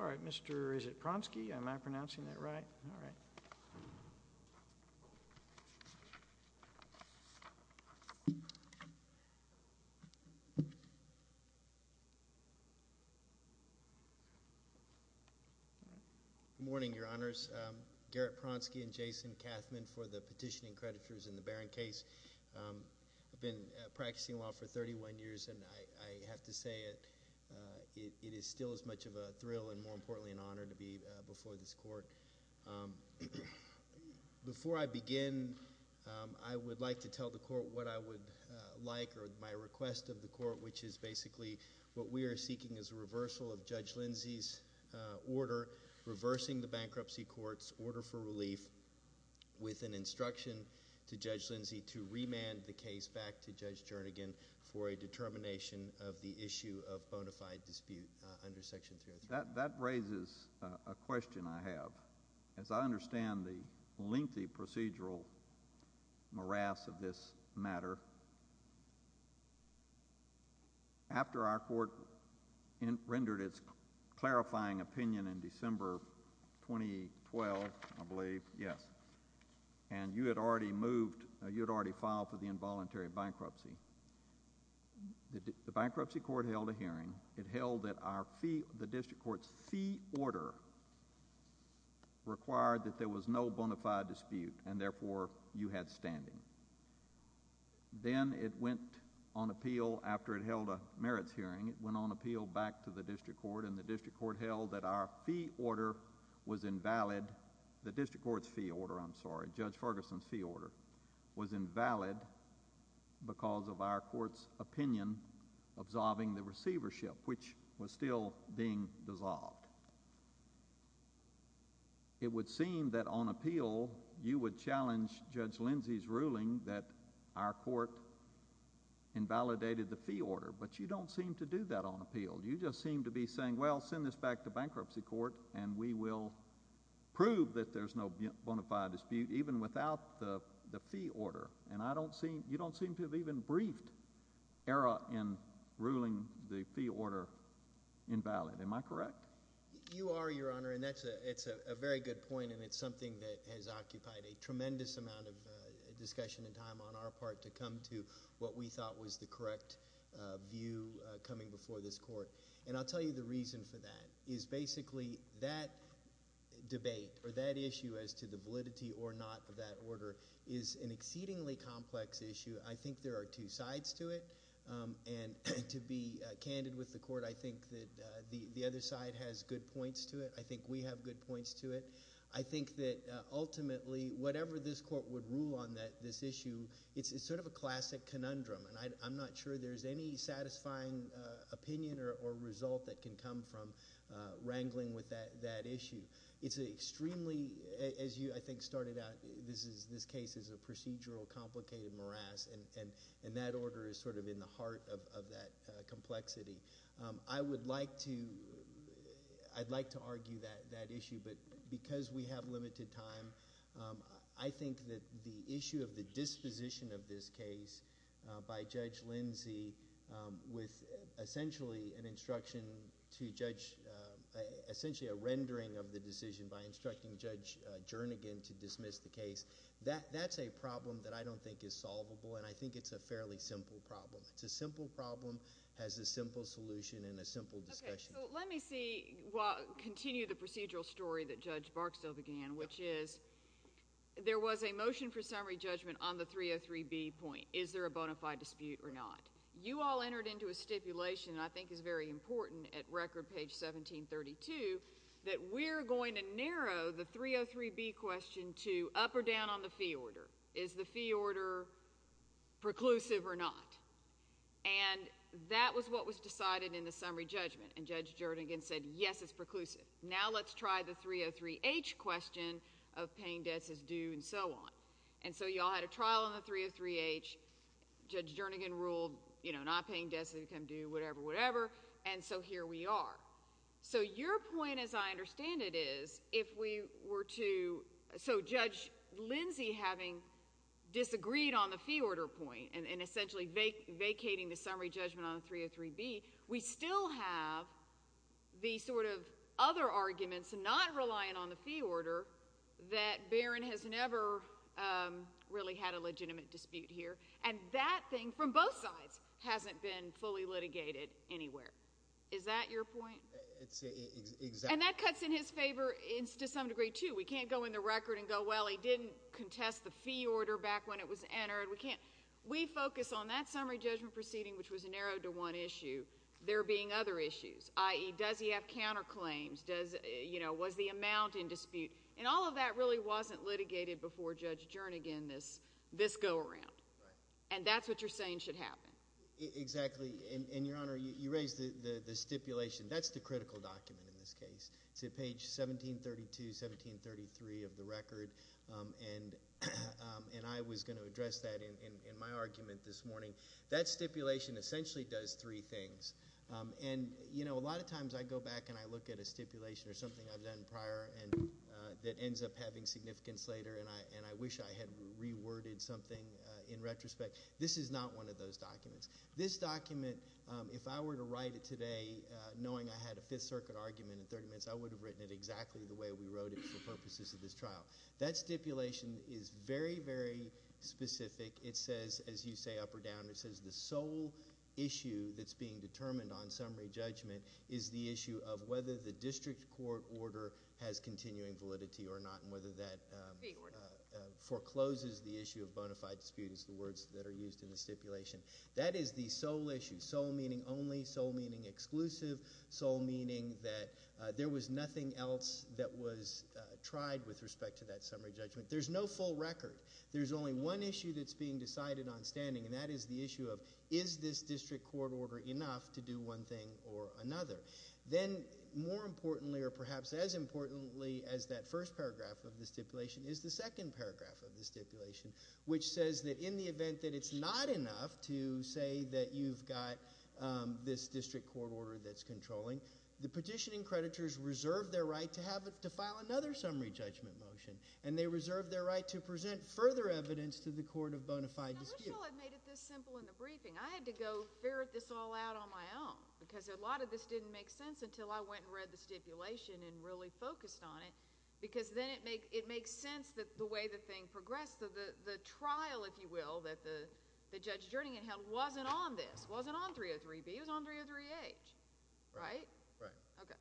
All right, Mr. Isipronsky, am I pronouncing that right? Good morning, Your Honors, Garrett Pronsky and Jason Kathman for the petitioning creditors in the Baron case. I've been practicing law for 31 years, and I have to say it is still as much of a thrill and more importantly an honor to be before this court. Before I begin, I would like to tell the court what I would like or my request of the court, which is basically what we are seeking is a reversal of Judge Lindsey's order, reversing the bankruptcy court's order for relief with an instruction to Judge Lindsey to remand the case back to Judge Jernigan for a determination of the issue of bona fide dispute under Section That raises a question I have. As I understand the lengthy procedural morass of this matter, after our court rendered its clarifying opinion in December 2012, I believe, yes, and you had already moved, you had already filed for the involuntary bankruptcy, the bankruptcy court held a hearing. It held that our fee, the district court's fee order required that there was no bona fide dispute, and therefore you had standing. Then it went on appeal after it held a merits hearing, it went on appeal back to the district court, and the district court held that our fee order was invalid, the district court's fee order, I'm sorry, Judge Ferguson's fee order was invalid because of our court's opinion absolving the receivership, which was still being dissolved. It would seem that on appeal you would challenge Judge Lindsey's ruling that our court invalidated the fee order, but you don't seem to do that on appeal. You just seem to be saying, well, send this back to bankruptcy court and we will prove that there's no bona fide dispute even without the fee order, and I don't see, you don't seem to have even briefed ERA in ruling the fee order invalid, am I correct? You are, Your Honor, and that's a very good point, and it's something that has occupied a tremendous amount of discussion and time on our part to come to what we thought was the correct view coming before this court, and I'll tell you the reason for that is basically that debate or that issue as to the validity or not of that order is an exceedingly complex issue. I think there are two sides to it, and to be candid with the court, I think that the other side has good points to it. I think we have good points to it. I think that ultimately whatever this court would rule on this issue, it's sort of a classic conundrum, and I'm not sure there's any satisfying opinion or result that can come from wrangling with that issue. It's an extremely, as you, I think, started out, this case is a procedural complicated morass, and that order is sort of in the heart of that complexity. I would like to, I'd like to argue that issue, but because we have limited time, I think that the issue of the disposition of this case by Judge Lindsey with essentially an instruction to Judge, essentially a rendering of the decision by instructing Judge Jernigan to dismiss the case, that's a problem that I don't think is solvable, and I think it's a fairly simple problem. It's a simple problem, has a simple solution and a simple discussion. Okay, so let me see, continue the procedural story that Judge Barksdale began, which is there was a motion for summary judgment on the 303B point. Is there a bona fide dispute or not? You all entered into a stipulation that I think is very important at record page 1732 that we're going to narrow the 303B question to up or down on the fee order. Is the fee order preclusive or not? And that was what was decided in the summary judgment, and Judge Jernigan said, yes, it's preclusive. Now let's try the 303H question of paying debts as due and so on. And so you all had a trial on the 303H. Judge Jernigan ruled, you know, not paying debts as a come due, whatever, whatever. And so here we are. So your point, as I understand it, is if we were to, so Judge Lindsey having disagreed on the fee order point and essentially vacating the summary judgment on the 303B, we still have the sort of other arguments not relying on the fee order that Barron has never really had a legitimate dispute here. And that thing from both sides hasn't been fully litigated anywhere. Is that your point? It's exact. And that cuts in his favor to some degree, too. We can't go in the record and go, well, he didn't contest the fee order back when it was entered. We can't. We focus on that summary judgment proceeding, which was narrowed to one issue, there being other issues, i.e., does he have counterclaims, does, you know, was the amount in dispute. And all of that really wasn't litigated before Judge Jernigan, this go-around. And that's what you're saying should happen. Exactly. And, Your Honor, you raised the stipulation. That's the critical document in this case. It's at page 1732, 1733 of the record. And I was going to address that in my argument this morning. That stipulation essentially does three things. And you know, a lot of times I go back and I look at a stipulation or something I've that ends up having significance later, and I wish I had reworded something in retrospect. This is not one of those documents. This document, if I were to write it today, knowing I had a Fifth Circuit argument in 30 minutes, I would have written it exactly the way we wrote it for purposes of this trial. That stipulation is very, very specific. It says, as you say, up or down, it says the sole issue that's being determined on summary that forecloses the issue of bona fide disputes, the words that are used in the stipulation. That is the sole issue, sole meaning only, sole meaning exclusive, sole meaning that there was nothing else that was tried with respect to that summary judgment. There's no full record. There's only one issue that's being decided on standing, and that is the issue of is this district court order enough to do one thing or another? Then, more importantly, or perhaps as importantly as that first paragraph of the stipulation is the second paragraph of the stipulation, which says that in the event that it's not enough to say that you've got this district court order that's controlling, the petitioning creditors reserve their right to file another summary judgment motion, and they reserve their right to present further evidence to the court of bona fide disputes. I wish I had made it this simple in the briefing. I had to go ferret this all out on my own, because a lot of this didn't make sense until I went and read the stipulation and really focused on it, because then it makes sense that the way the thing progressed, the trial, if you will, that Judge Jernigan held wasn't on this, wasn't on 303B. It was on 303H, right? Right. Okay.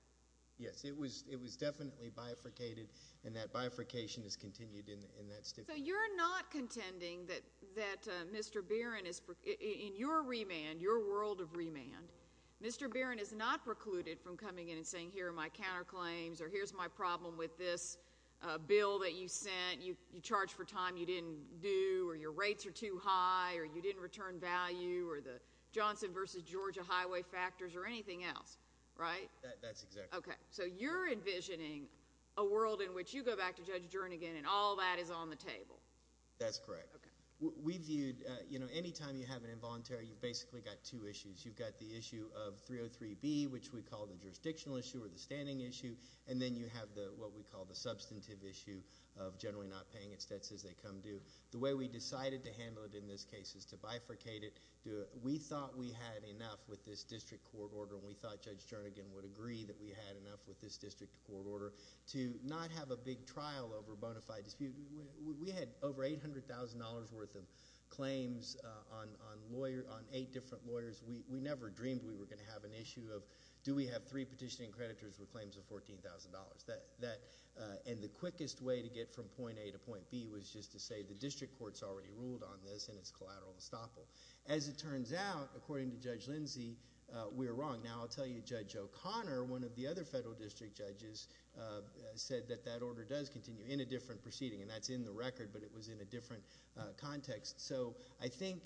Yes. It was definitely bifurcated, and that bifurcation has continued in that stipulation. So you're not contending that Mr. Barron, in your remand, your world of remand, Mr. Barron is not precluded from coming in and saying, here are my counterclaims, or here's my problem with this bill that you sent, you charged for time you didn't do, or your rates are too high, or you didn't return value, or the Johnson versus Georgia highway factors, or anything else, right? That's exactly right. Okay. So you're envisioning a world in which you go back to Judge Jernigan and all that is on the table? That's correct. Okay. We viewed, you know, any time you have an involuntary, you've basically got two issues. You've got the issue of 303B, which we call the jurisdictional issue or the standing issue, and then you have what we call the substantive issue of generally not paying its debts as they come due. The way we decided to handle it in this case is to bifurcate it. We thought we had enough with this district court order, and we thought Judge Jernigan would agree that we had enough with this district court order to not have a big trial over bona fide. We had over $800,000 worth of claims on eight different lawyers. We never dreamed we were going to have an issue of do we have three petitioning creditors with claims of $14,000? And the quickest way to get from point A to point B was just to say the district court has already ruled on this, and it's collateral estoppel. As it turns out, according to Judge Lindsey, we were wrong. Now I'll tell you Judge O'Connor, one of the other federal district judges, said that that order does continue in a different proceeding, and that's in the record, but it was in a different context. So I think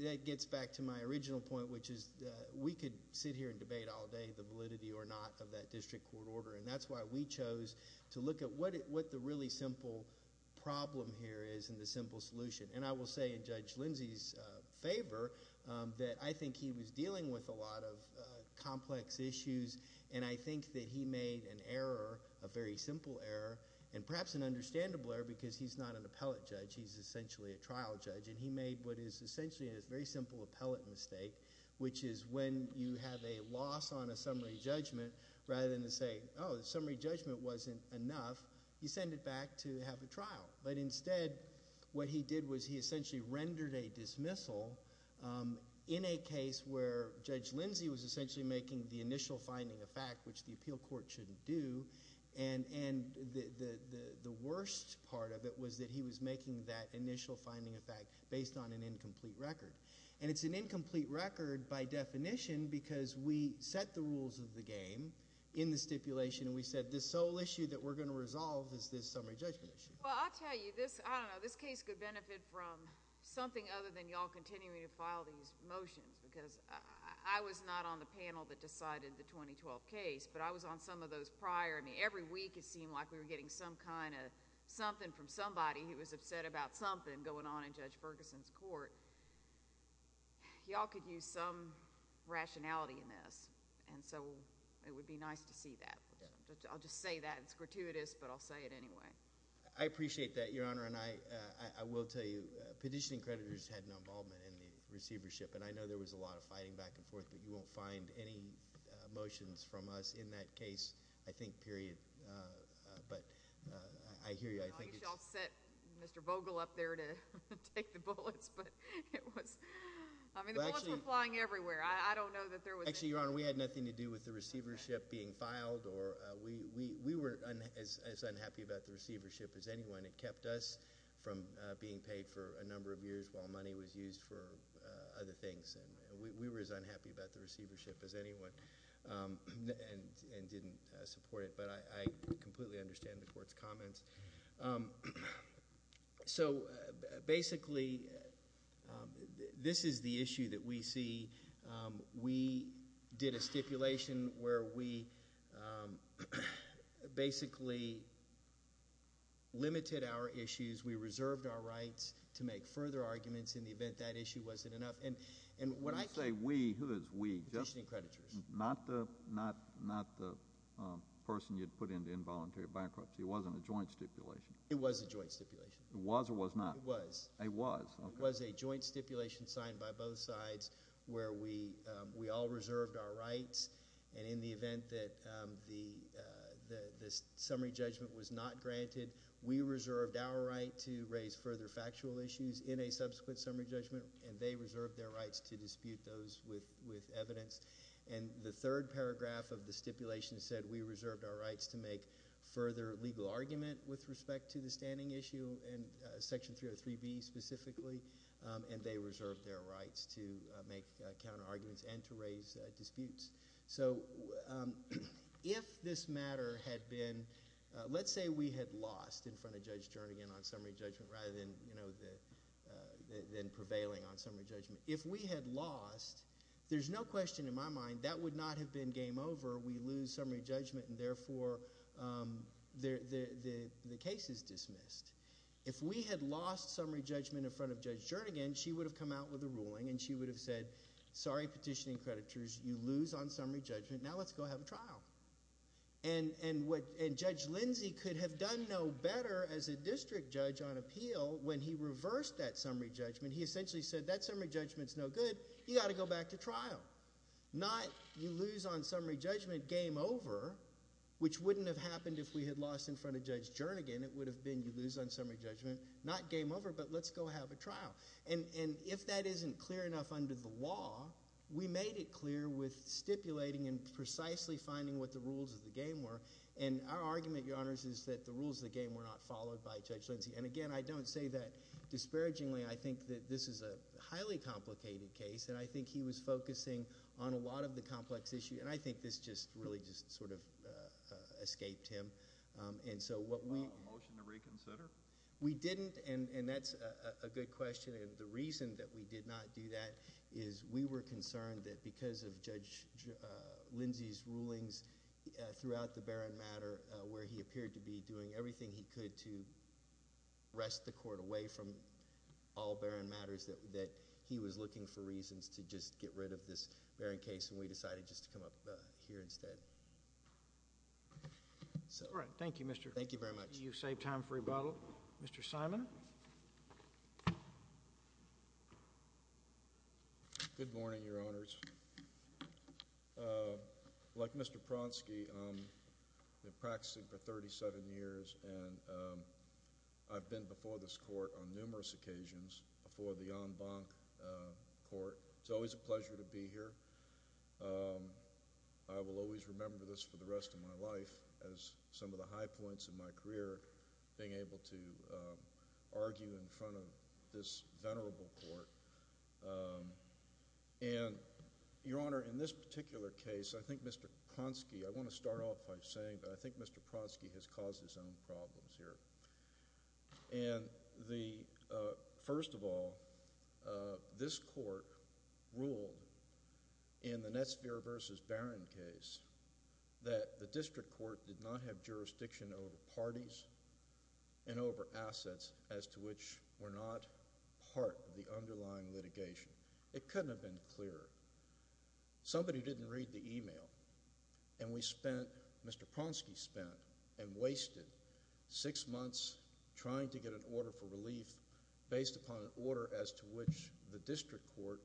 that gets back to my original point, which is that we could sit here and debate all day the validity or not of that district court order, and that's why we chose to look at what the really simple problem here is and the simple solution. And I will say in Judge Lindsey's favor that I think he was dealing with a lot of complex issues, and I think that he made an error, a very simple error, and perhaps an understandable error because he's not an appellate judge, he's essentially a trial judge, and he made what is essentially a very simple appellate mistake, which is when you have a loss on a summary judgment, rather than to say, oh, the summary judgment wasn't enough, you send it back to have a trial. But instead, what he did was he essentially rendered a dismissal in a case where Judge Lindsey made an initial finding of fact, which the appeal court shouldn't do, and the worst part of it was that he was making that initial finding of fact based on an incomplete record. And it's an incomplete record by definition because we set the rules of the game in the stipulation, and we said the sole issue that we're going to resolve is this summary judgment issue. Well, I'll tell you, I don't know, this case could benefit from something other than y'all continuing to file these motions, because I was not on the panel that decided the 2012 case, but I was on some of those prior. I mean, every week it seemed like we were getting some kind of something from somebody who was upset about something going on in Judge Ferguson's court. Y'all could use some rationality in this, and so it would be nice to see that. I'll just say that. It's gratuitous, but I'll say it anyway. I appreciate that, Your Honor, and I will tell you, petitioning creditors had an involvement in the receivership, and I know there was a lot of fighting back and forth, but you won't find any motions from us in that case, I think, period. But I hear you. I think it's... Well, you should have sent Mr. Vogel up there to take the bullets, but it was... I mean, the bullets were flying everywhere. I don't know that there was... Actually, Your Honor, we had nothing to do with the receivership being filed. We were as unhappy about the receivership as anyone. It kept us from being paid for a number of years while money was used for other things. We were as unhappy about the receivership as anyone and didn't support it, but I completely understand the Court's comments. So basically, this is the issue that we see. We did a stipulation where we basically limited our issues. We reserved our rights to make further arguments in the event that issue wasn't enough, and what I... When you say we, who is we? Petitioning creditors. Not the person you'd put into involuntary bankruptcy. It wasn't a joint stipulation. It was a joint stipulation. It was or was not? It was. It was? Okay. It was a joint stipulation signed by both sides where we all reserved our rights, and in the event that the summary judgment was not granted, we reserved our right to raise further factual issues in a subsequent summary judgment, and they reserved their rights to dispute those with evidence. And the third paragraph of the stipulation said we reserved our rights to make further legal argument with respect to the standing issue and Section 303B specifically, and they reserved their rights to make counterarguments and to raise disputes. So if this matter had been... let's say we had lost in front of Judge Jernigan on summary judgment rather than prevailing on summary judgment. If we had lost, there's no question in my mind that would not have been game over. We lose summary judgment, and, therefore, the case is dismissed. If we had lost summary judgment in front of Judge Jernigan, she would have come out with a ruling, and she would have said, sorry, petitioning creditors, you lose on summary judgment. Now let's go have a trial. And Judge Lindsay could have done no better as a district judge on appeal when he reversed that summary judgment. He essentially said that summary judgment is no good. You've got to go back to trial. Not you lose on summary judgment, game over, which wouldn't have happened if we had lost in front of Judge Jernigan. It would have been you lose on summary judgment, not game over, but let's go have a trial. And if that isn't clear enough under the law, we made it clear with stipulating and precisely finding what the rules of the game were. And our argument, Your Honors, is that the rules of the game were not followed by Judge Lindsay. And, again, I don't say that disparagingly. I think that this is a highly complicated case, and I think he was focusing on a lot of the complex issue, and I think this just really just sort of escaped him. And so what we... A motion to reconsider? We didn't, and that's a good question. The reason that we did not do that is we were concerned that because of Judge Lindsay's rulings throughout the Barron matter where he appeared to be doing everything he could to wrest the Court away from all Barron matters, that he was looking for reasons to just get rid of this Barron case, and we decided just to come up here instead. All right. Thank you, Mr.... Thank you very much. You've saved time for rebuttal. Mr. Simon? Good morning, Your Honors. Like Mr. Pronsky, I've been practicing for thirty-seven years, and I've been before this Court on numerous occasions, before the en banc Court. It's always a pleasure to be here. I will always remember this for the rest of my life as some of the high points in my career, being able to argue in front of this venerable Court. And, Your Honor, in this particular case, I think Mr. Pronsky... I want to start off by saying that I think Mr. Pronsky has caused his own problems here, and the... first of all, this Court ruled in the Netsvier v. Barron case that the District Court did not have It couldn't have been clearer. Somebody didn't read the email, and we spent... Mr. Pronsky spent and wasted six months trying to get an order for relief based upon an order as to which the District Court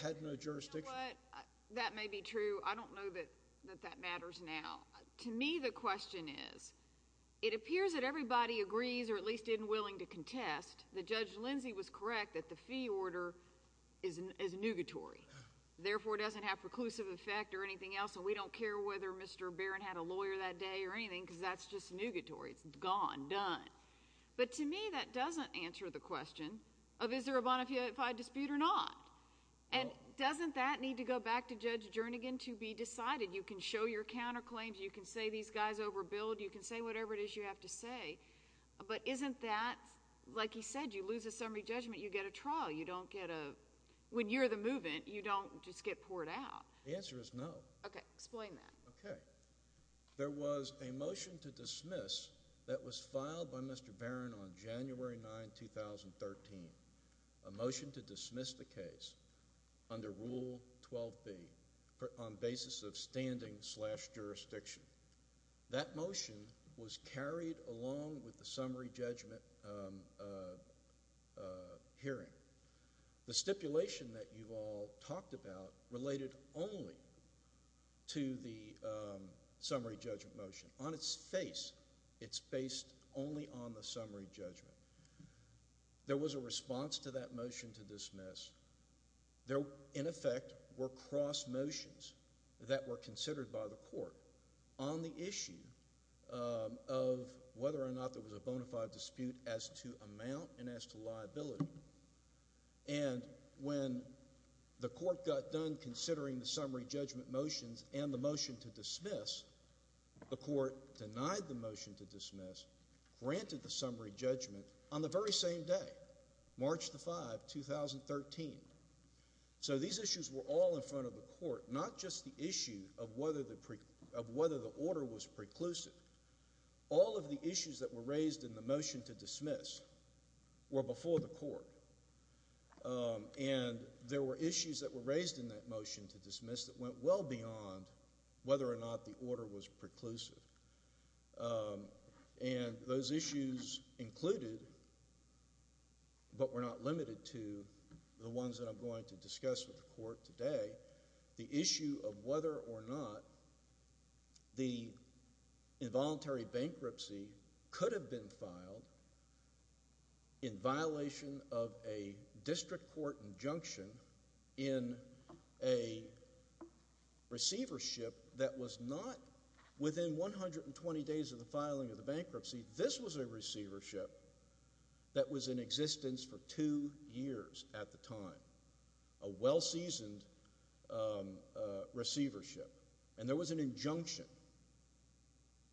had no jurisdiction. You know what? That may be true. I don't know that that matters now. To me, the question is, it appears that everybody agrees, or at least isn't willing to contest that Judge Lindsey was correct that the fee order is nugatory, therefore doesn't have preclusive effect or anything else, and we don't care whether Mr. Barron had a lawyer that day or anything, because that's just nugatory. It's gone. Done. But, to me, that doesn't answer the question of is there a bona fide dispute or not? And doesn't that need to go back to Judge Jernigan to be decided? You can show your counterclaims. You can say these guys overbilled. You can say whatever it is you have to say. But isn't that, like he said, you lose a summary judgment, you get a trial. You don't get a—when you're the move-in, you don't just get poured out. The answer is no. Okay. Explain that. Okay. There was a motion to dismiss that was filed by Mr. Barron on January 9, 2013, a motion to dismiss the case under Rule 12b on basis of standing slash jurisdiction. That motion was carried along with the summary judgment hearing. The stipulation that you've all talked about related only to the summary judgment motion. On its face, it's based only on the summary judgment. There was a response to that motion to dismiss. There, in effect, were cross motions that were considered by the court on the issue of whether or not there was a bona fide dispute as to amount and as to liability. And when the court got done considering the summary judgment motions and the motion to dismiss, the court denied the motion to dismiss, granted the summary judgment on the very same day, March the 5th, 2013. So these issues were all in front of the court, not just the issue of whether the order was preclusive. All of the issues that were raised in the motion to dismiss were before the court. And there were issues that were raised in that motion to dismiss that went well beyond whether or not the order was preclusive. And those issues included, but were not limited to, the ones that I'm going to discuss with the court today. The issue of whether or not the involuntary bankruptcy could have been filed in violation of a district court injunction in a receivership that was not within 120 days of the filing of the bankruptcy. This was a receivership that was in existence for two years at the time. A well-seasoned receivership. And there was an injunction.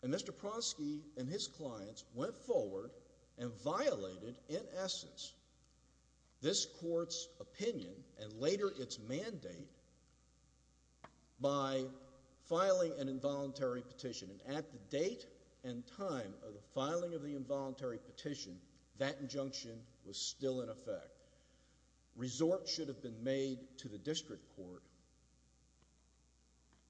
And Mr. Pronsky and his clients went forward and violated, in essence, this court's opinion and later its mandate by filing an involuntary petition. And at the date and time of the filing of the involuntary petition, that injunction was still in effect. Resorts should have been made to the district court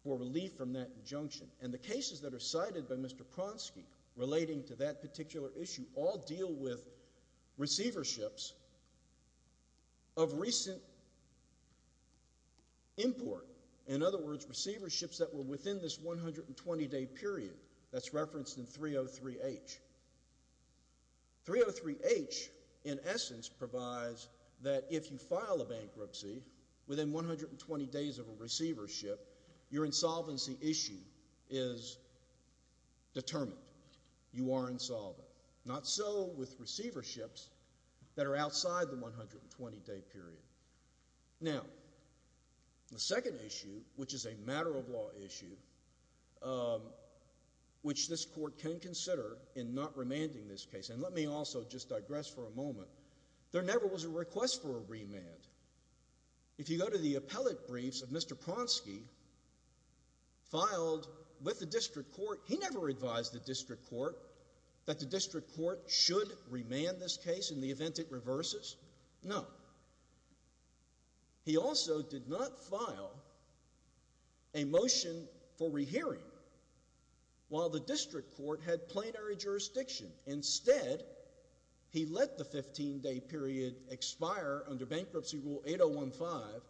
for relief from that injunction. And the cases that are cited by Mr. Pronsky relating to that particular issue all deal with receiverships of recent import. In other words, receiverships that were within this 120-day period that's referenced in 303H. 303H, in essence, provides that if you file a bankruptcy within 120 days of a receivership, your insolvency issue is determined. You are insolvent. Not so with receiverships that are outside the 120-day period. Now, the second issue, which is a matter of law issue, which this court can consider in not remanding this case, and let me also just digress for a moment, there never was a request for a remand. If you go to the appellate briefs of Mr. Pronsky, filed with the district court, he never advised the district court that the district court should remand this case in the event it reverses. He also did not file a motion for rehearing while the district court had plenary jurisdiction. Instead, he let the 15-day period expire under bankruptcy rule 8015,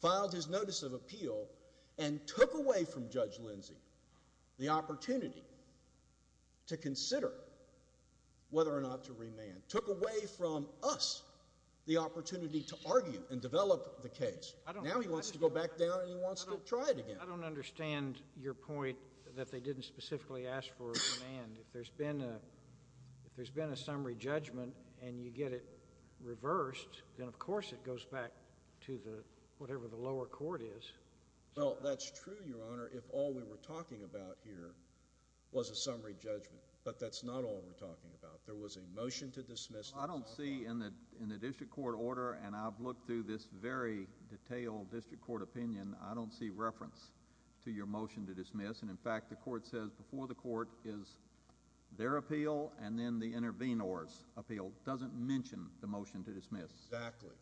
filed his notice of appeal, and took away from Judge Lindsey the opportunity to consider whether or not to remand, took away from us the opportunity to argue and develop the case. Now he wants to go back down and he wants to try it again. I don't understand your point that they didn't specifically ask for a remand. If there's been a summary judgment and you get it reversed, then of course it goes back to whatever the lower court is. Well, that's true, Your Honor, if all we were talking about here was a summary judgment, but that's not all we're talking about. There was a motion to dismiss. I don't see in the district court order, and I've looked through this very detailed district court opinion, I don't see reference to your motion to dismiss, and in fact, the court says before the court is their appeal and then the intervenors' appeal. It doesn't mention the motion to dismiss. Exactly,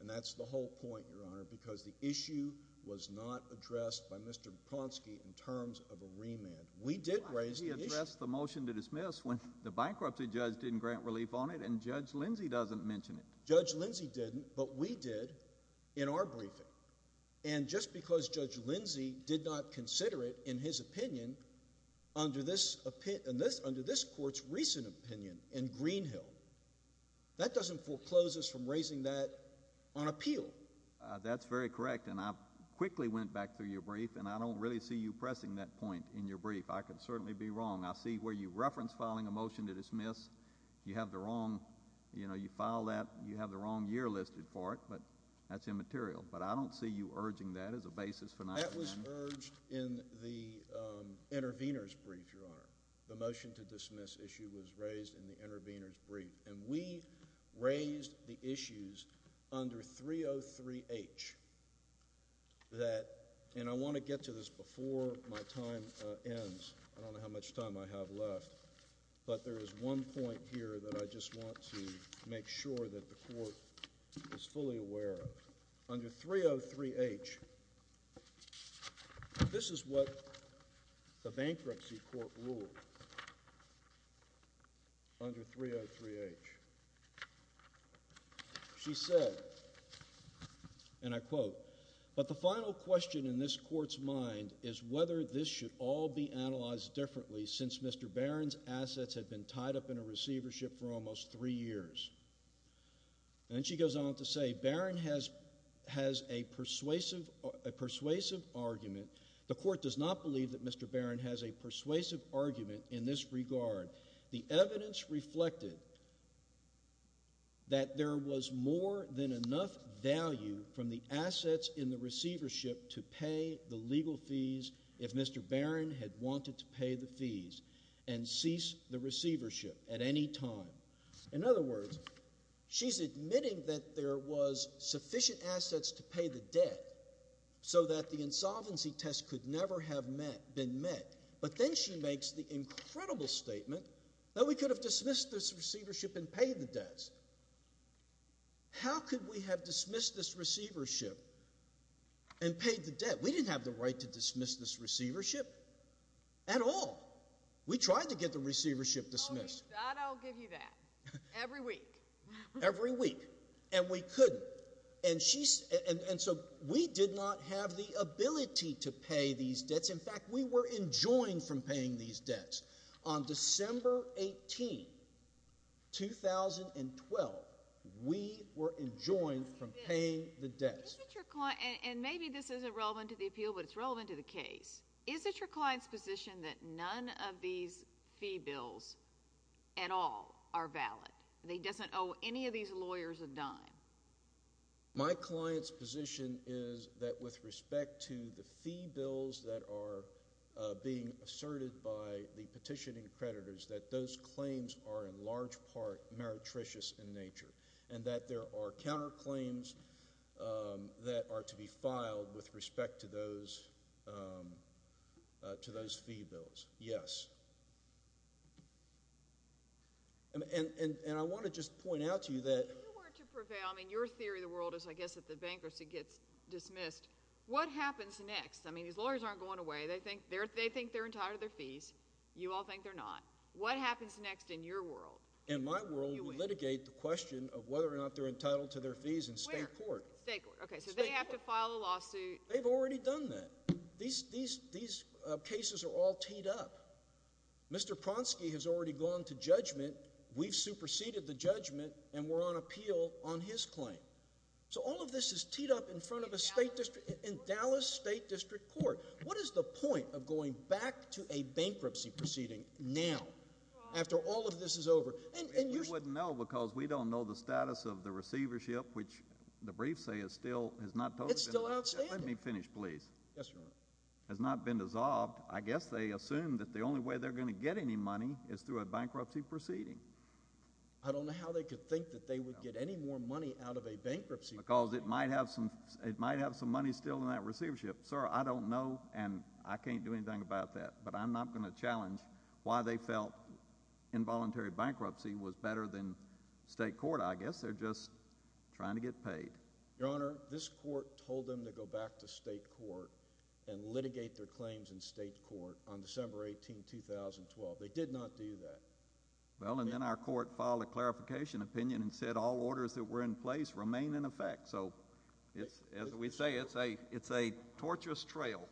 and that's the whole point, Your Honor, because the issue was not addressed by Mr. Duponsky in terms of a remand. We did raise the issue. Why did he address the motion to dismiss when the bankruptcy judge didn't grant relief on it and Judge Lindsey doesn't mention it? Judge Lindsey didn't, but we did in our briefing, and just because Judge Lindsey did not consider it in his opinion under this court's recent opinion in Greenhill, that doesn't foreclose us from raising that on appeal. That's very correct, and I quickly went back through your brief, and I don't really see you pressing that point in your brief. I could certainly be wrong. I see where you reference filing a motion to dismiss, you have the wrong, you know, you file that, you have the wrong year listed for it, but that's immaterial, but I don't see you urging that as a basis for not having it. That was urged in the intervenors' brief, Your Honor. The motion to dismiss issue was raised in the intervenors' brief, and we raised the issues under 303H that, and I want to get to this before my time ends. I don't know how much time I have left, but there is one point here that I just want to make sure that the Court is fully aware of. Under 303H, this is what the bankruptcy court ruled under 303H. She said, and I quote, but the final question in this Court's mind is whether this should all be analyzed differently since Mr. Barron's assets had been tied up in a receivership for almost three years. And she goes on to say, Barron has a persuasive argument. The Court does not believe that Mr. Barron has a persuasive argument in this regard. The evidence reflected that there was more than enough value from the assets in the receivership to pay the legal fees if Mr. Barron had wanted to pay the fees and cease the receivership at any time. In other words, she's admitting that there was sufficient assets to pay the debt so that the insolvency test could never have been met, but then she makes the incredible statement that we could have dismissed this receivership and paid the debts. How could we have dismissed this receivership and paid the debt? We didn't have the right to dismiss this receivership at all. We tried to get the receivership dismissed. I'll give you that. Every week. Every week. And we couldn't. And so we did not have the ability to pay these debts. In fact, we were enjoined from paying these debts. On December 18, 2012, we were enjoined from paying the debts. And maybe this isn't relevant to the appeal, but it's relevant to the case. Is it your client's position that none of these fee bills at all are valid? That he doesn't owe any of these lawyers a dime? My client's position is that with respect to the fee bills that are being asserted by the petitioning creditors, that those claims are in large part meretricious in nature and that there are counterclaims that are to be filed with respect to those fee bills. Yes. And I want to just point out to you that— If you were to prevail—I mean, your theory of the world is, I guess, that the bankruptcy gets dismissed. What happens next? I mean, these lawyers aren't going away. They think they're entitled to their fees. You all think they're not. What happens next in your world? In my world, we litigate the question of whether or not they're entitled to their fees in state court. Where? State court. Okay, so they have to file a lawsuit. They've already done that. These cases are all teed up. Mr. Pronsky has already gone to judgment. We've superseded the judgment, and we're on appeal on his claim. So all of this is teed up in front of a state district. In Dallas State District Court, what is the point of going back to a bankruptcy proceeding now after all of this is over? We wouldn't know because we don't know the status of the receivership, which the briefs say is still— It's still outstanding. Let me finish, please. Yes, Your Honor. It has not been dissolved. I guess they assume that the only way they're going to get any money is through a bankruptcy proceeding. I don't know how they could think that they would get any more money out of a bankruptcy proceeding. Because it might have some money still in that receivership. Sir, I don't know, and I can't do anything about that, but I'm not going to challenge why they felt involuntary bankruptcy was better than state court. I guess they're just trying to get paid. Your Honor, this court told them to go back to state court and litigate their claims in state court on December 18, 2012. They did not do that. Well, and then our court filed a clarification opinion and said all orders that were in place remain in effect. So as we say, it's a tortuous trail.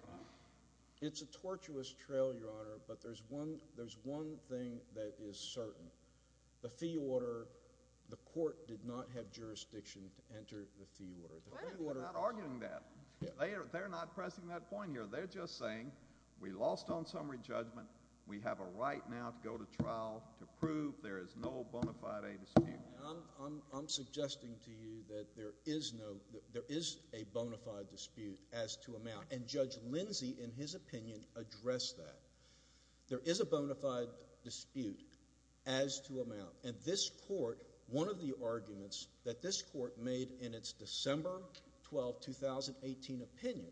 It's a tortuous trail, Your Honor, but there's one thing that is certain. The fee order, the court did not have jurisdiction to enter the fee order. They're not arguing that. They're not pressing that point here. They're just saying we lost on summary judgment. We have a right now to go to trial to prove there is no bona fide dispute. I'm suggesting to you that there is a bona fide dispute as to amount, and Judge Lindsey, in his opinion, addressed that. There is a bona fide dispute as to amount, and this court, one of the arguments that this court made in its December 12, 2018 opinion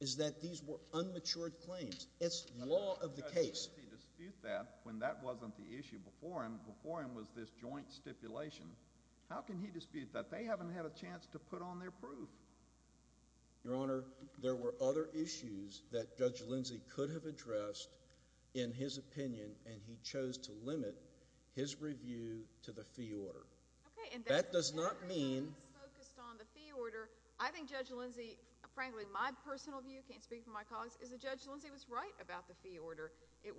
is that these were unmatured claims. It's law of the case. But how can Judge Lindsey dispute that when that wasn't the issue before him? Before him was this joint stipulation. How can he dispute that? They haven't had a chance to put on their proof. Your Honor, there were other issues that Judge Lindsey could have addressed in his opinion, and he chose to limit his review to the fee order. That does not mean... Okay, and that is focused on the fee order. I think Judge Lindsey, frankly, my personal view, can't speak for my colleagues, is that Judge Lindsey was right about the fee order. It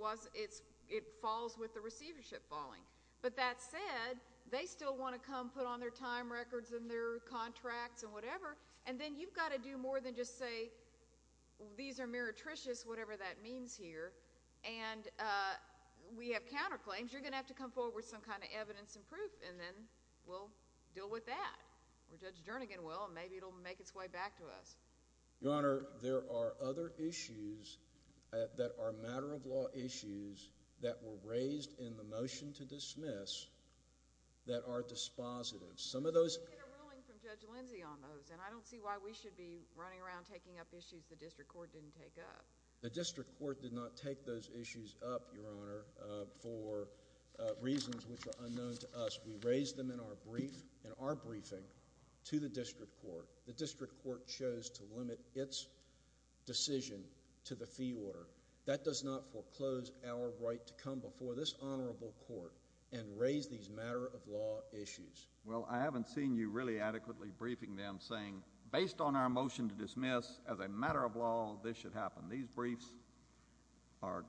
falls with the receivership falling. But that said, they still want to come put on their time records and their contracts and whatever, and then you've got to do more than just say these are meretricious, whatever that means here, and we have counterclaims. You're going to have to come forward with some kind of evidence and proof, and then we'll deal with that. Or Judge Jernigan will, and maybe it will make its way back to us. Your Honor, there are other issues that are matter-of-law issues that were raised in the motion to dismiss that are dispositive. Some of those... But we did a ruling from Judge Lindsey on those, and I don't see why we should be running around taking up issues the district court didn't take up. The district court did not take those issues up, Your Honor, for reasons which are unknown to us. We raised them in our briefing to the district court. The district court chose to limit its decision to the fee order. That does not foreclose our right to come before this honorable court and raise these matter-of-law issues. Well, I haven't seen you really adequately briefing them saying, based on our motion to dismiss as a matter-of-law, this should happen. These briefs are,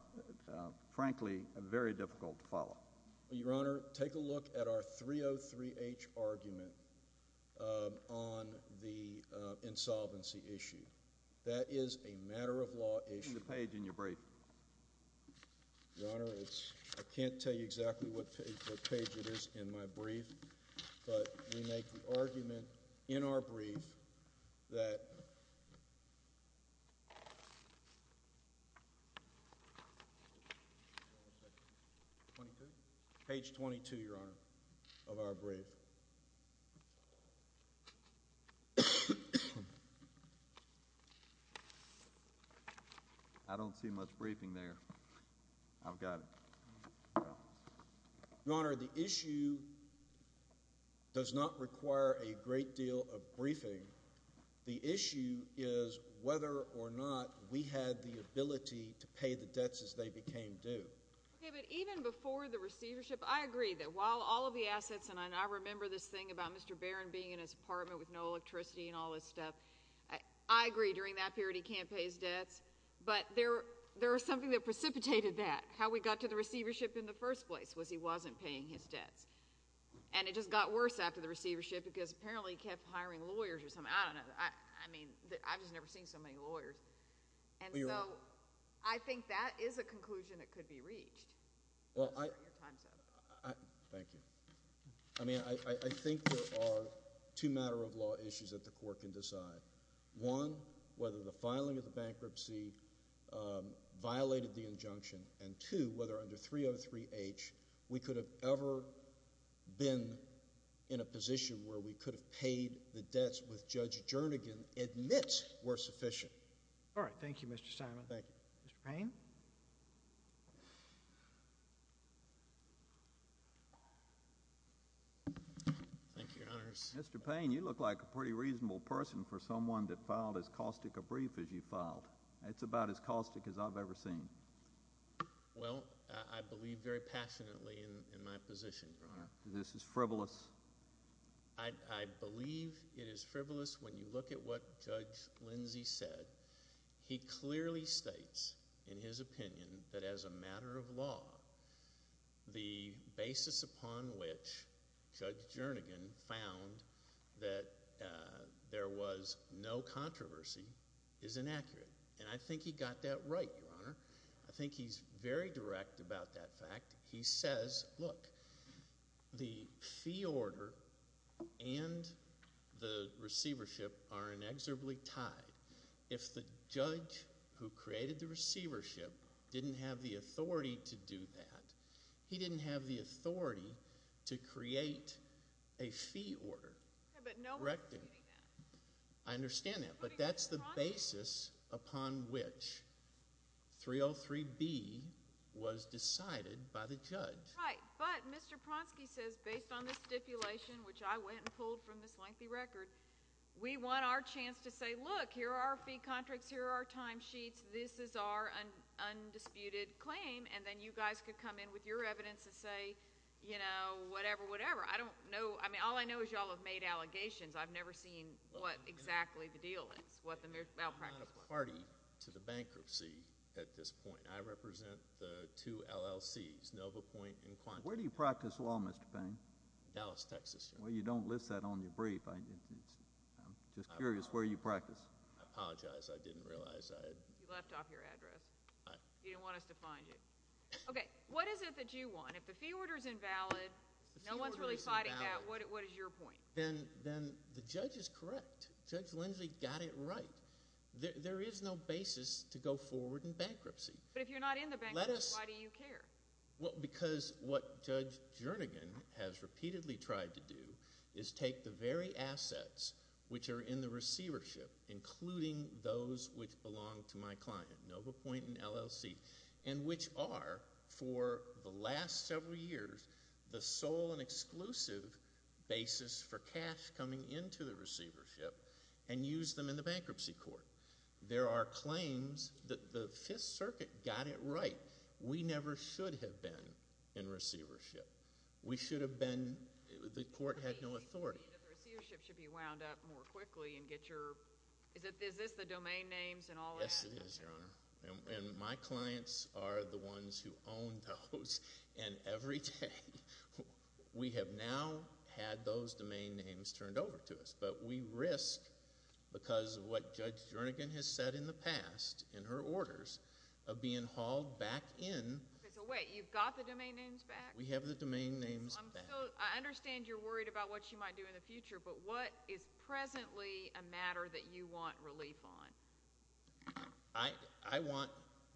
frankly, very difficult to follow. Your Honor, take a look at our 303-H argument on the insolvency issue. That is a matter-of-law issue. It's on the page in your brief. Your Honor, I can't tell you exactly what page it is in my brief, but we make the argument in our brief that page 22, Your Honor, of our brief. I don't see much briefing there. I've got it. Your Honor, the issue does not require a great deal of briefing. The issue is whether or not we had the ability to pay the debts as they became due. Okay, but even before the receivership, I agree that while all of the assets, and I remember this thing about Mr. Barron being in his apartment with no electricity and all this stuff, I agree during that period he can't pay his debts. But there was something that precipitated that. How we got to the receivership in the first place was he wasn't paying his debts. And it just got worse after the receivership because apparently he kept hiring lawyers or something. I don't know. I mean, I've just never seen so many lawyers. And so I think that is a conclusion that could be reached. Thank you. I mean, I think there are two matter-of-law issues that the Court can decide. One, whether the filing of the bankruptcy violated the injunction, and two, whether under 303H we could have ever been in a position where we could have paid the debts with Judge Jernigan, admit were sufficient. All right. Thank you, Mr. Simon. Mr. Payne. Thank you, Your Honors. Mr. Payne, you look like a pretty reasonable person for someone that filed as caustic a brief as you filed. It's about as caustic as I've ever seen. Well, I believe very passionately in my position, Your Honor. This is frivolous? I believe it is frivolous when you look at what Judge Lindsey said. He clearly states in his opinion that as a matter of law, the basis upon which Judge Jernigan found that there was no controversy is inaccurate. And I think he got that right, Your Honor. I think he's very direct about that fact. He says, look, the fee order and the receivership are inexorably tied. If the judge who created the receivership didn't have the authority to do that, he didn't have the authority to create a fee order. But no one's saying that. I understand that. But that's the basis upon which 303B was decided by the judge. Right. But Mr. Pronsky says, based on the stipulation, which I went and pulled from this lengthy record, we want our chance to say, look, here are our fee contracts. Here are our timesheets. This is our undisputed claim. And then you guys could come in with your evidence and say, you know, whatever, whatever. I don't know. I mean, all I know is you all have made allegations. I've never seen what exactly the deal is, what the malpractice plan is. I'm not a party to the bankruptcy at this point. I represent the two LLCs, NovaPoint and Quantico. Where do you practice law, Mr. Payne? Dallas, Texas, Your Honor. Well, you don't list that on your brief. I'm just curious where you practice. I apologize. I didn't realize I had— You left off your address. You didn't want us to find you. Okay. What is it that you want? If the fee order is invalid, no one's really fighting that, what is your point? Then the judge is correct. Judge Lindsey got it right. There is no basis to go forward in bankruptcy. But if you're not in the bankruptcy, why do you care? Well, because what Judge Jernigan has repeatedly tried to do is take the very assets which are in the receivership, including those which belong to my client, NovaPoint and LLC, and which are for the last several years the sole and exclusive basis for cash coming into the receivership and use them in the bankruptcy court. There are claims that the Fifth Circuit got it right. We never should have been in receivership. We should have been—the court had no authority. The receivership should be wound up more quickly and get your—is this the domain names and all that? Yes, it is, Your Honor. And my clients are the ones who own those. And every day we have now had those domain names turned over to us. But we risk, because of what Judge Jernigan has said in the past in her orders, of being hauled back in. So wait, you've got the domain names back? We have the domain names back. I understand you're worried about what she might do in the future. But what is presently a matter that you want relief on? I want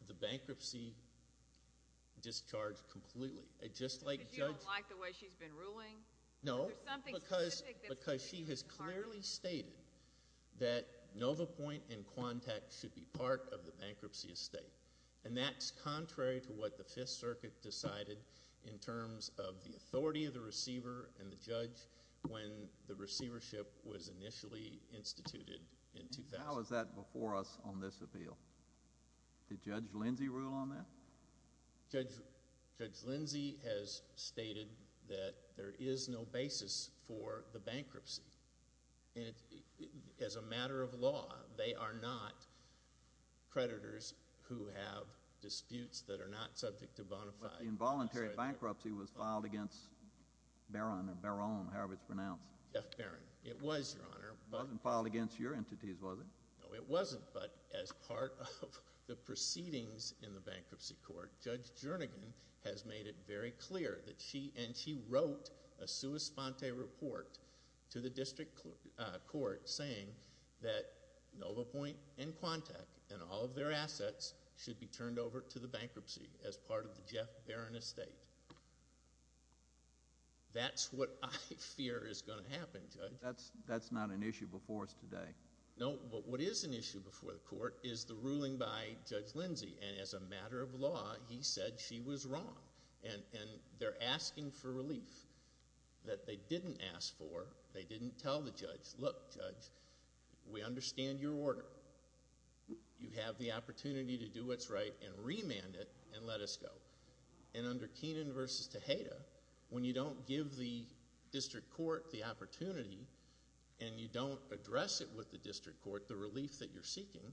the bankruptcy discharged completely. Because you don't like the way she's been ruling? No. Because she has clearly stated that NovaPoint and Quantec should be part of the bankruptcy estate. And that's contrary to what the Fifth Circuit decided in terms of the authority of the receiver and the judge when the receivership was initially instituted in 2000. How is that before us on this appeal? Did Judge Lindsey rule on that? Judge Lindsey has stated that there is no basis for the bankruptcy. And as a matter of law, they are not creditors who have disputes that are not subject to bonafide. The involuntary bankruptcy was filed against Barron or Barron, however it's pronounced. Jeff Barron. It was, Your Honor. It wasn't filed against your entities, was it? No, it wasn't, but as part of the proceedings in the bankruptcy court, Judge Jernigan has made it very clear that she and she wrote a sua sponte report to the district court saying that NovaPoint and Quantec and all of their assets should be turned over to the bankruptcy as part of the Jeff Barron estate. That's what I fear is going to happen, Judge. That's not an issue before us today. No, but what is an issue before the court is the ruling by Judge Lindsey. And as a matter of law, he said she was wrong. And they're asking for relief that they didn't ask for. They didn't tell the judge, look, Judge, we understand your order. You have the opportunity to do what's right and remand it and let us go. And under Keenan v. Tejeda, when you don't give the district court the opportunity and you don't address it with the district court, the relief that you're seeking,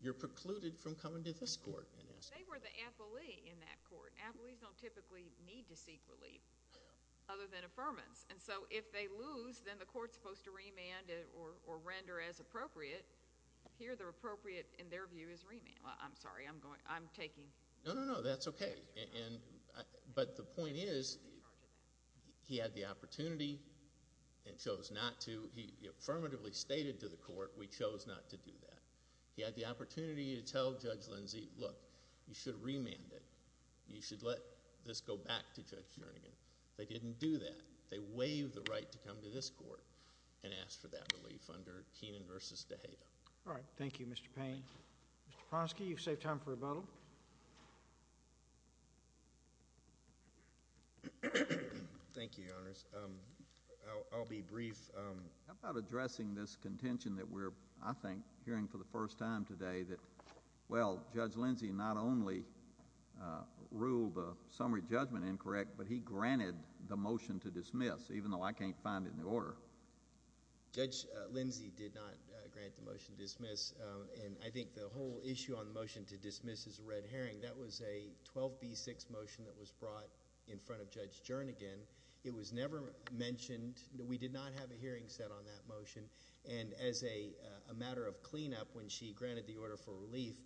you're precluded from coming to this court and asking. They were the affilee in that court. Affilees don't typically need to seek relief other than affirmance. And so if they lose, then the court is supposed to remand it or render as appropriate. Here the appropriate, in their view, is remand. I'm sorry. I'm taking. No, no, no, that's okay. But the point is he had the opportunity and chose not to. He affirmatively stated to the court we chose not to do that. He had the opportunity to tell Judge Lindsey, look, you should remand it. You should let this go back to Judge Jernigan. They didn't do that. They waived the right to come to this court and asked for that relief under Keenan v. Tejeda. All right. Thank you, Mr. Payne. Mr. Pronsky, you've saved time for rebuttal. Thank you, Your Honors. I'll be brief. How about addressing this contention that we're, I think, hearing for the first time today that, well, Judge Lindsey not only ruled the summary judgment incorrect, but he granted the motion to dismiss, even though I can't find it in the order. Judge Lindsey did not grant the motion to dismiss. And I think the whole issue on the motion to dismiss is a red herring. That was a 12B6 motion that was brought in front of Judge Jernigan. It was never mentioned. We did not have a hearing set on that motion. And as a matter of cleanup, when she granted the order for relief,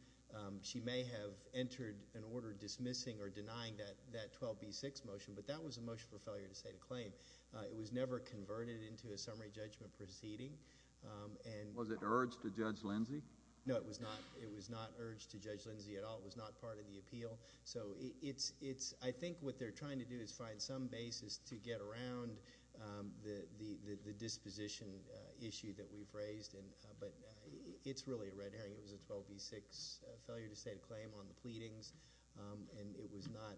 she may have entered an order dismissing or denying that 12B6 motion. But that was a motion for failure to state a claim. It was never converted into a summary judgment proceeding. Was it urged to Judge Lindsey? No, it was not. It was not urged to Judge Lindsey at all. It was not part of the appeal. So I think what they're trying to do is find some basis to get around the disposition issue that we've raised. But it's really a red herring. It was a 12B6 failure to state a claim on the pleadings. And it was not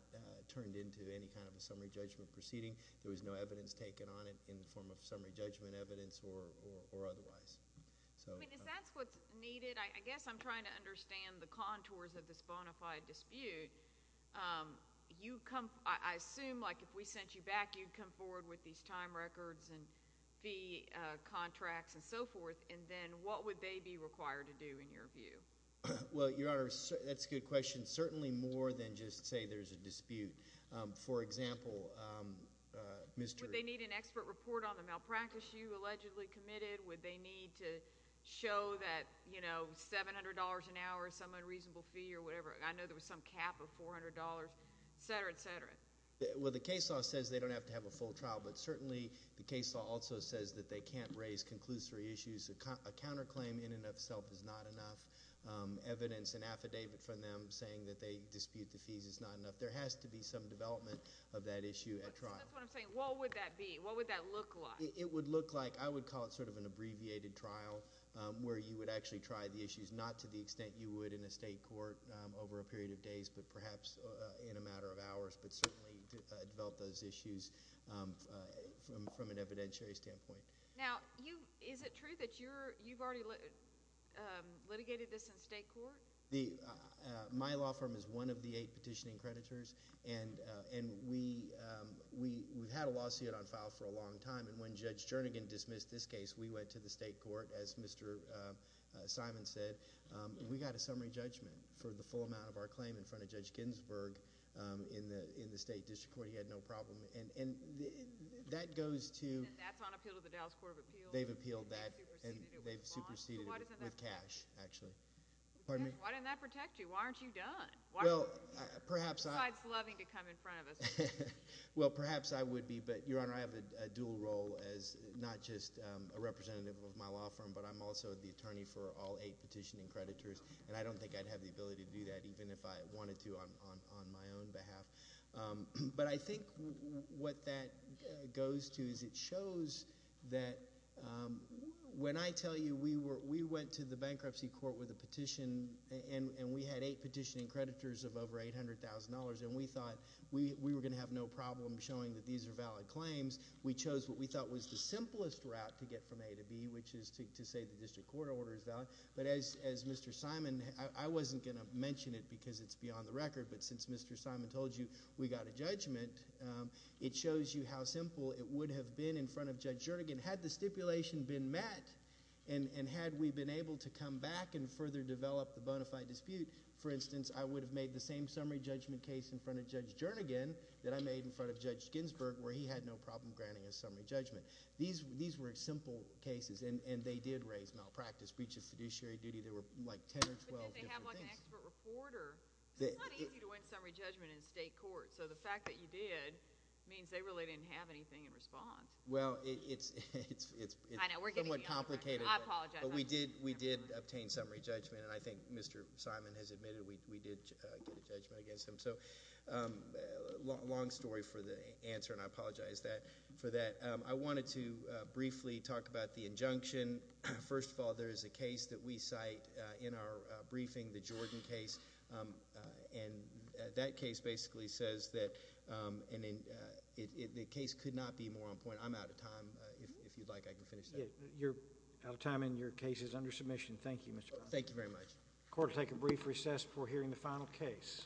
turned into any kind of a summary judgment proceeding. There was no evidence taken on it in the form of summary judgment evidence or otherwise. If that's what's needed, I guess I'm trying to understand the contours of this bona fide dispute. I assume, like, if we sent you back, you'd come forward with these time records and fee contracts and so forth. And then what would they be required to do, in your view? Well, Your Honor, that's a good question. Certainly more than just say there's a dispute. For example, Mr. Would they need an expert report on the malpractice you allegedly committed? Would they need to show that, you know, $700 an hour is some unreasonable fee or whatever? I know there was some cap of $400, et cetera, et cetera. Well, the case law says they don't have to have a full trial. But certainly the case law also says that they can't raise conclusory issues. A counterclaim in and of itself is not enough. Evidence and affidavit from them saying that they dispute the fees is not enough. There has to be some development of that issue at trial. That's what I'm saying. What would that be? What would that look like? It would look like, I would call it sort of an abbreviated trial where you would actually try the issues, not to the extent you would in a state court over a period of days, but perhaps in a matter of hours, but certainly develop those issues from an evidentiary standpoint. Now, is it true that you've already litigated this in state court? My law firm is one of the eight petitioning creditors, and we've had a lawsuit on file for a long time. And when Judge Jernigan dismissed this case, we went to the state court, as Mr. Simon said. We got a summary judgment for the full amount of our claim in front of Judge Ginsburg in the state district court. He had no problem. And that goes to— And that's on appeal to the Dallas Court of Appeals? They've appealed that, and they've superseded it with cash, actually. Pardon me? Why didn't that protect you? Why aren't you done? Well, perhaps I— Besides loving to come in front of us. Well, perhaps I would be, but, Your Honor, I have a dual role as not just a representative of my law firm, but I'm also the attorney for all eight petitioning creditors, and I don't think I'd have the ability to do that even if I wanted to on my own behalf. But I think what that goes to is it shows that when I tell you we went to the bankruptcy court with a petition, and we had eight petitioning creditors of over $800,000, and we thought we were going to have no problem showing that these are valid claims, we chose what we thought was the simplest route to get from A to B, which is to say the district court order is valid. But as Mr. Simon—I wasn't going to mention it because it's beyond the record, but since Mr. Simon told you we got a judgment, it shows you how simple it would have been in front of Judge Jernigan had the stipulation been met and had we been able to come back and further develop the bona fide dispute. For instance, I would have made the same summary judgment case in front of Judge Jernigan that I made in front of Judge Ginsburg where he had no problem granting a summary judgment. These were simple cases, and they did raise malpractice, breach of fiduciary duty. There were like 10 or 12 different things. But did they have like an expert reporter? It's not easy to win summary judgment in state court, so the fact that you did means they really didn't have anything in response. Well, it's somewhat complicated, but we did obtain summary judgment, and I think Mr. Simon has admitted we did get a judgment against him. So long story for the answer, and I apologize for that. I wanted to briefly talk about the injunction. First of all, there is a case that we cite in our briefing, the Jordan case, and that case basically says that the case could not be more on point. I'm out of time. If you'd like, I can finish that. You're out of time, and your case is under submission. Thank you, Mr. Proctor. Thank you very much. Court will take a brief recess before hearing the final case.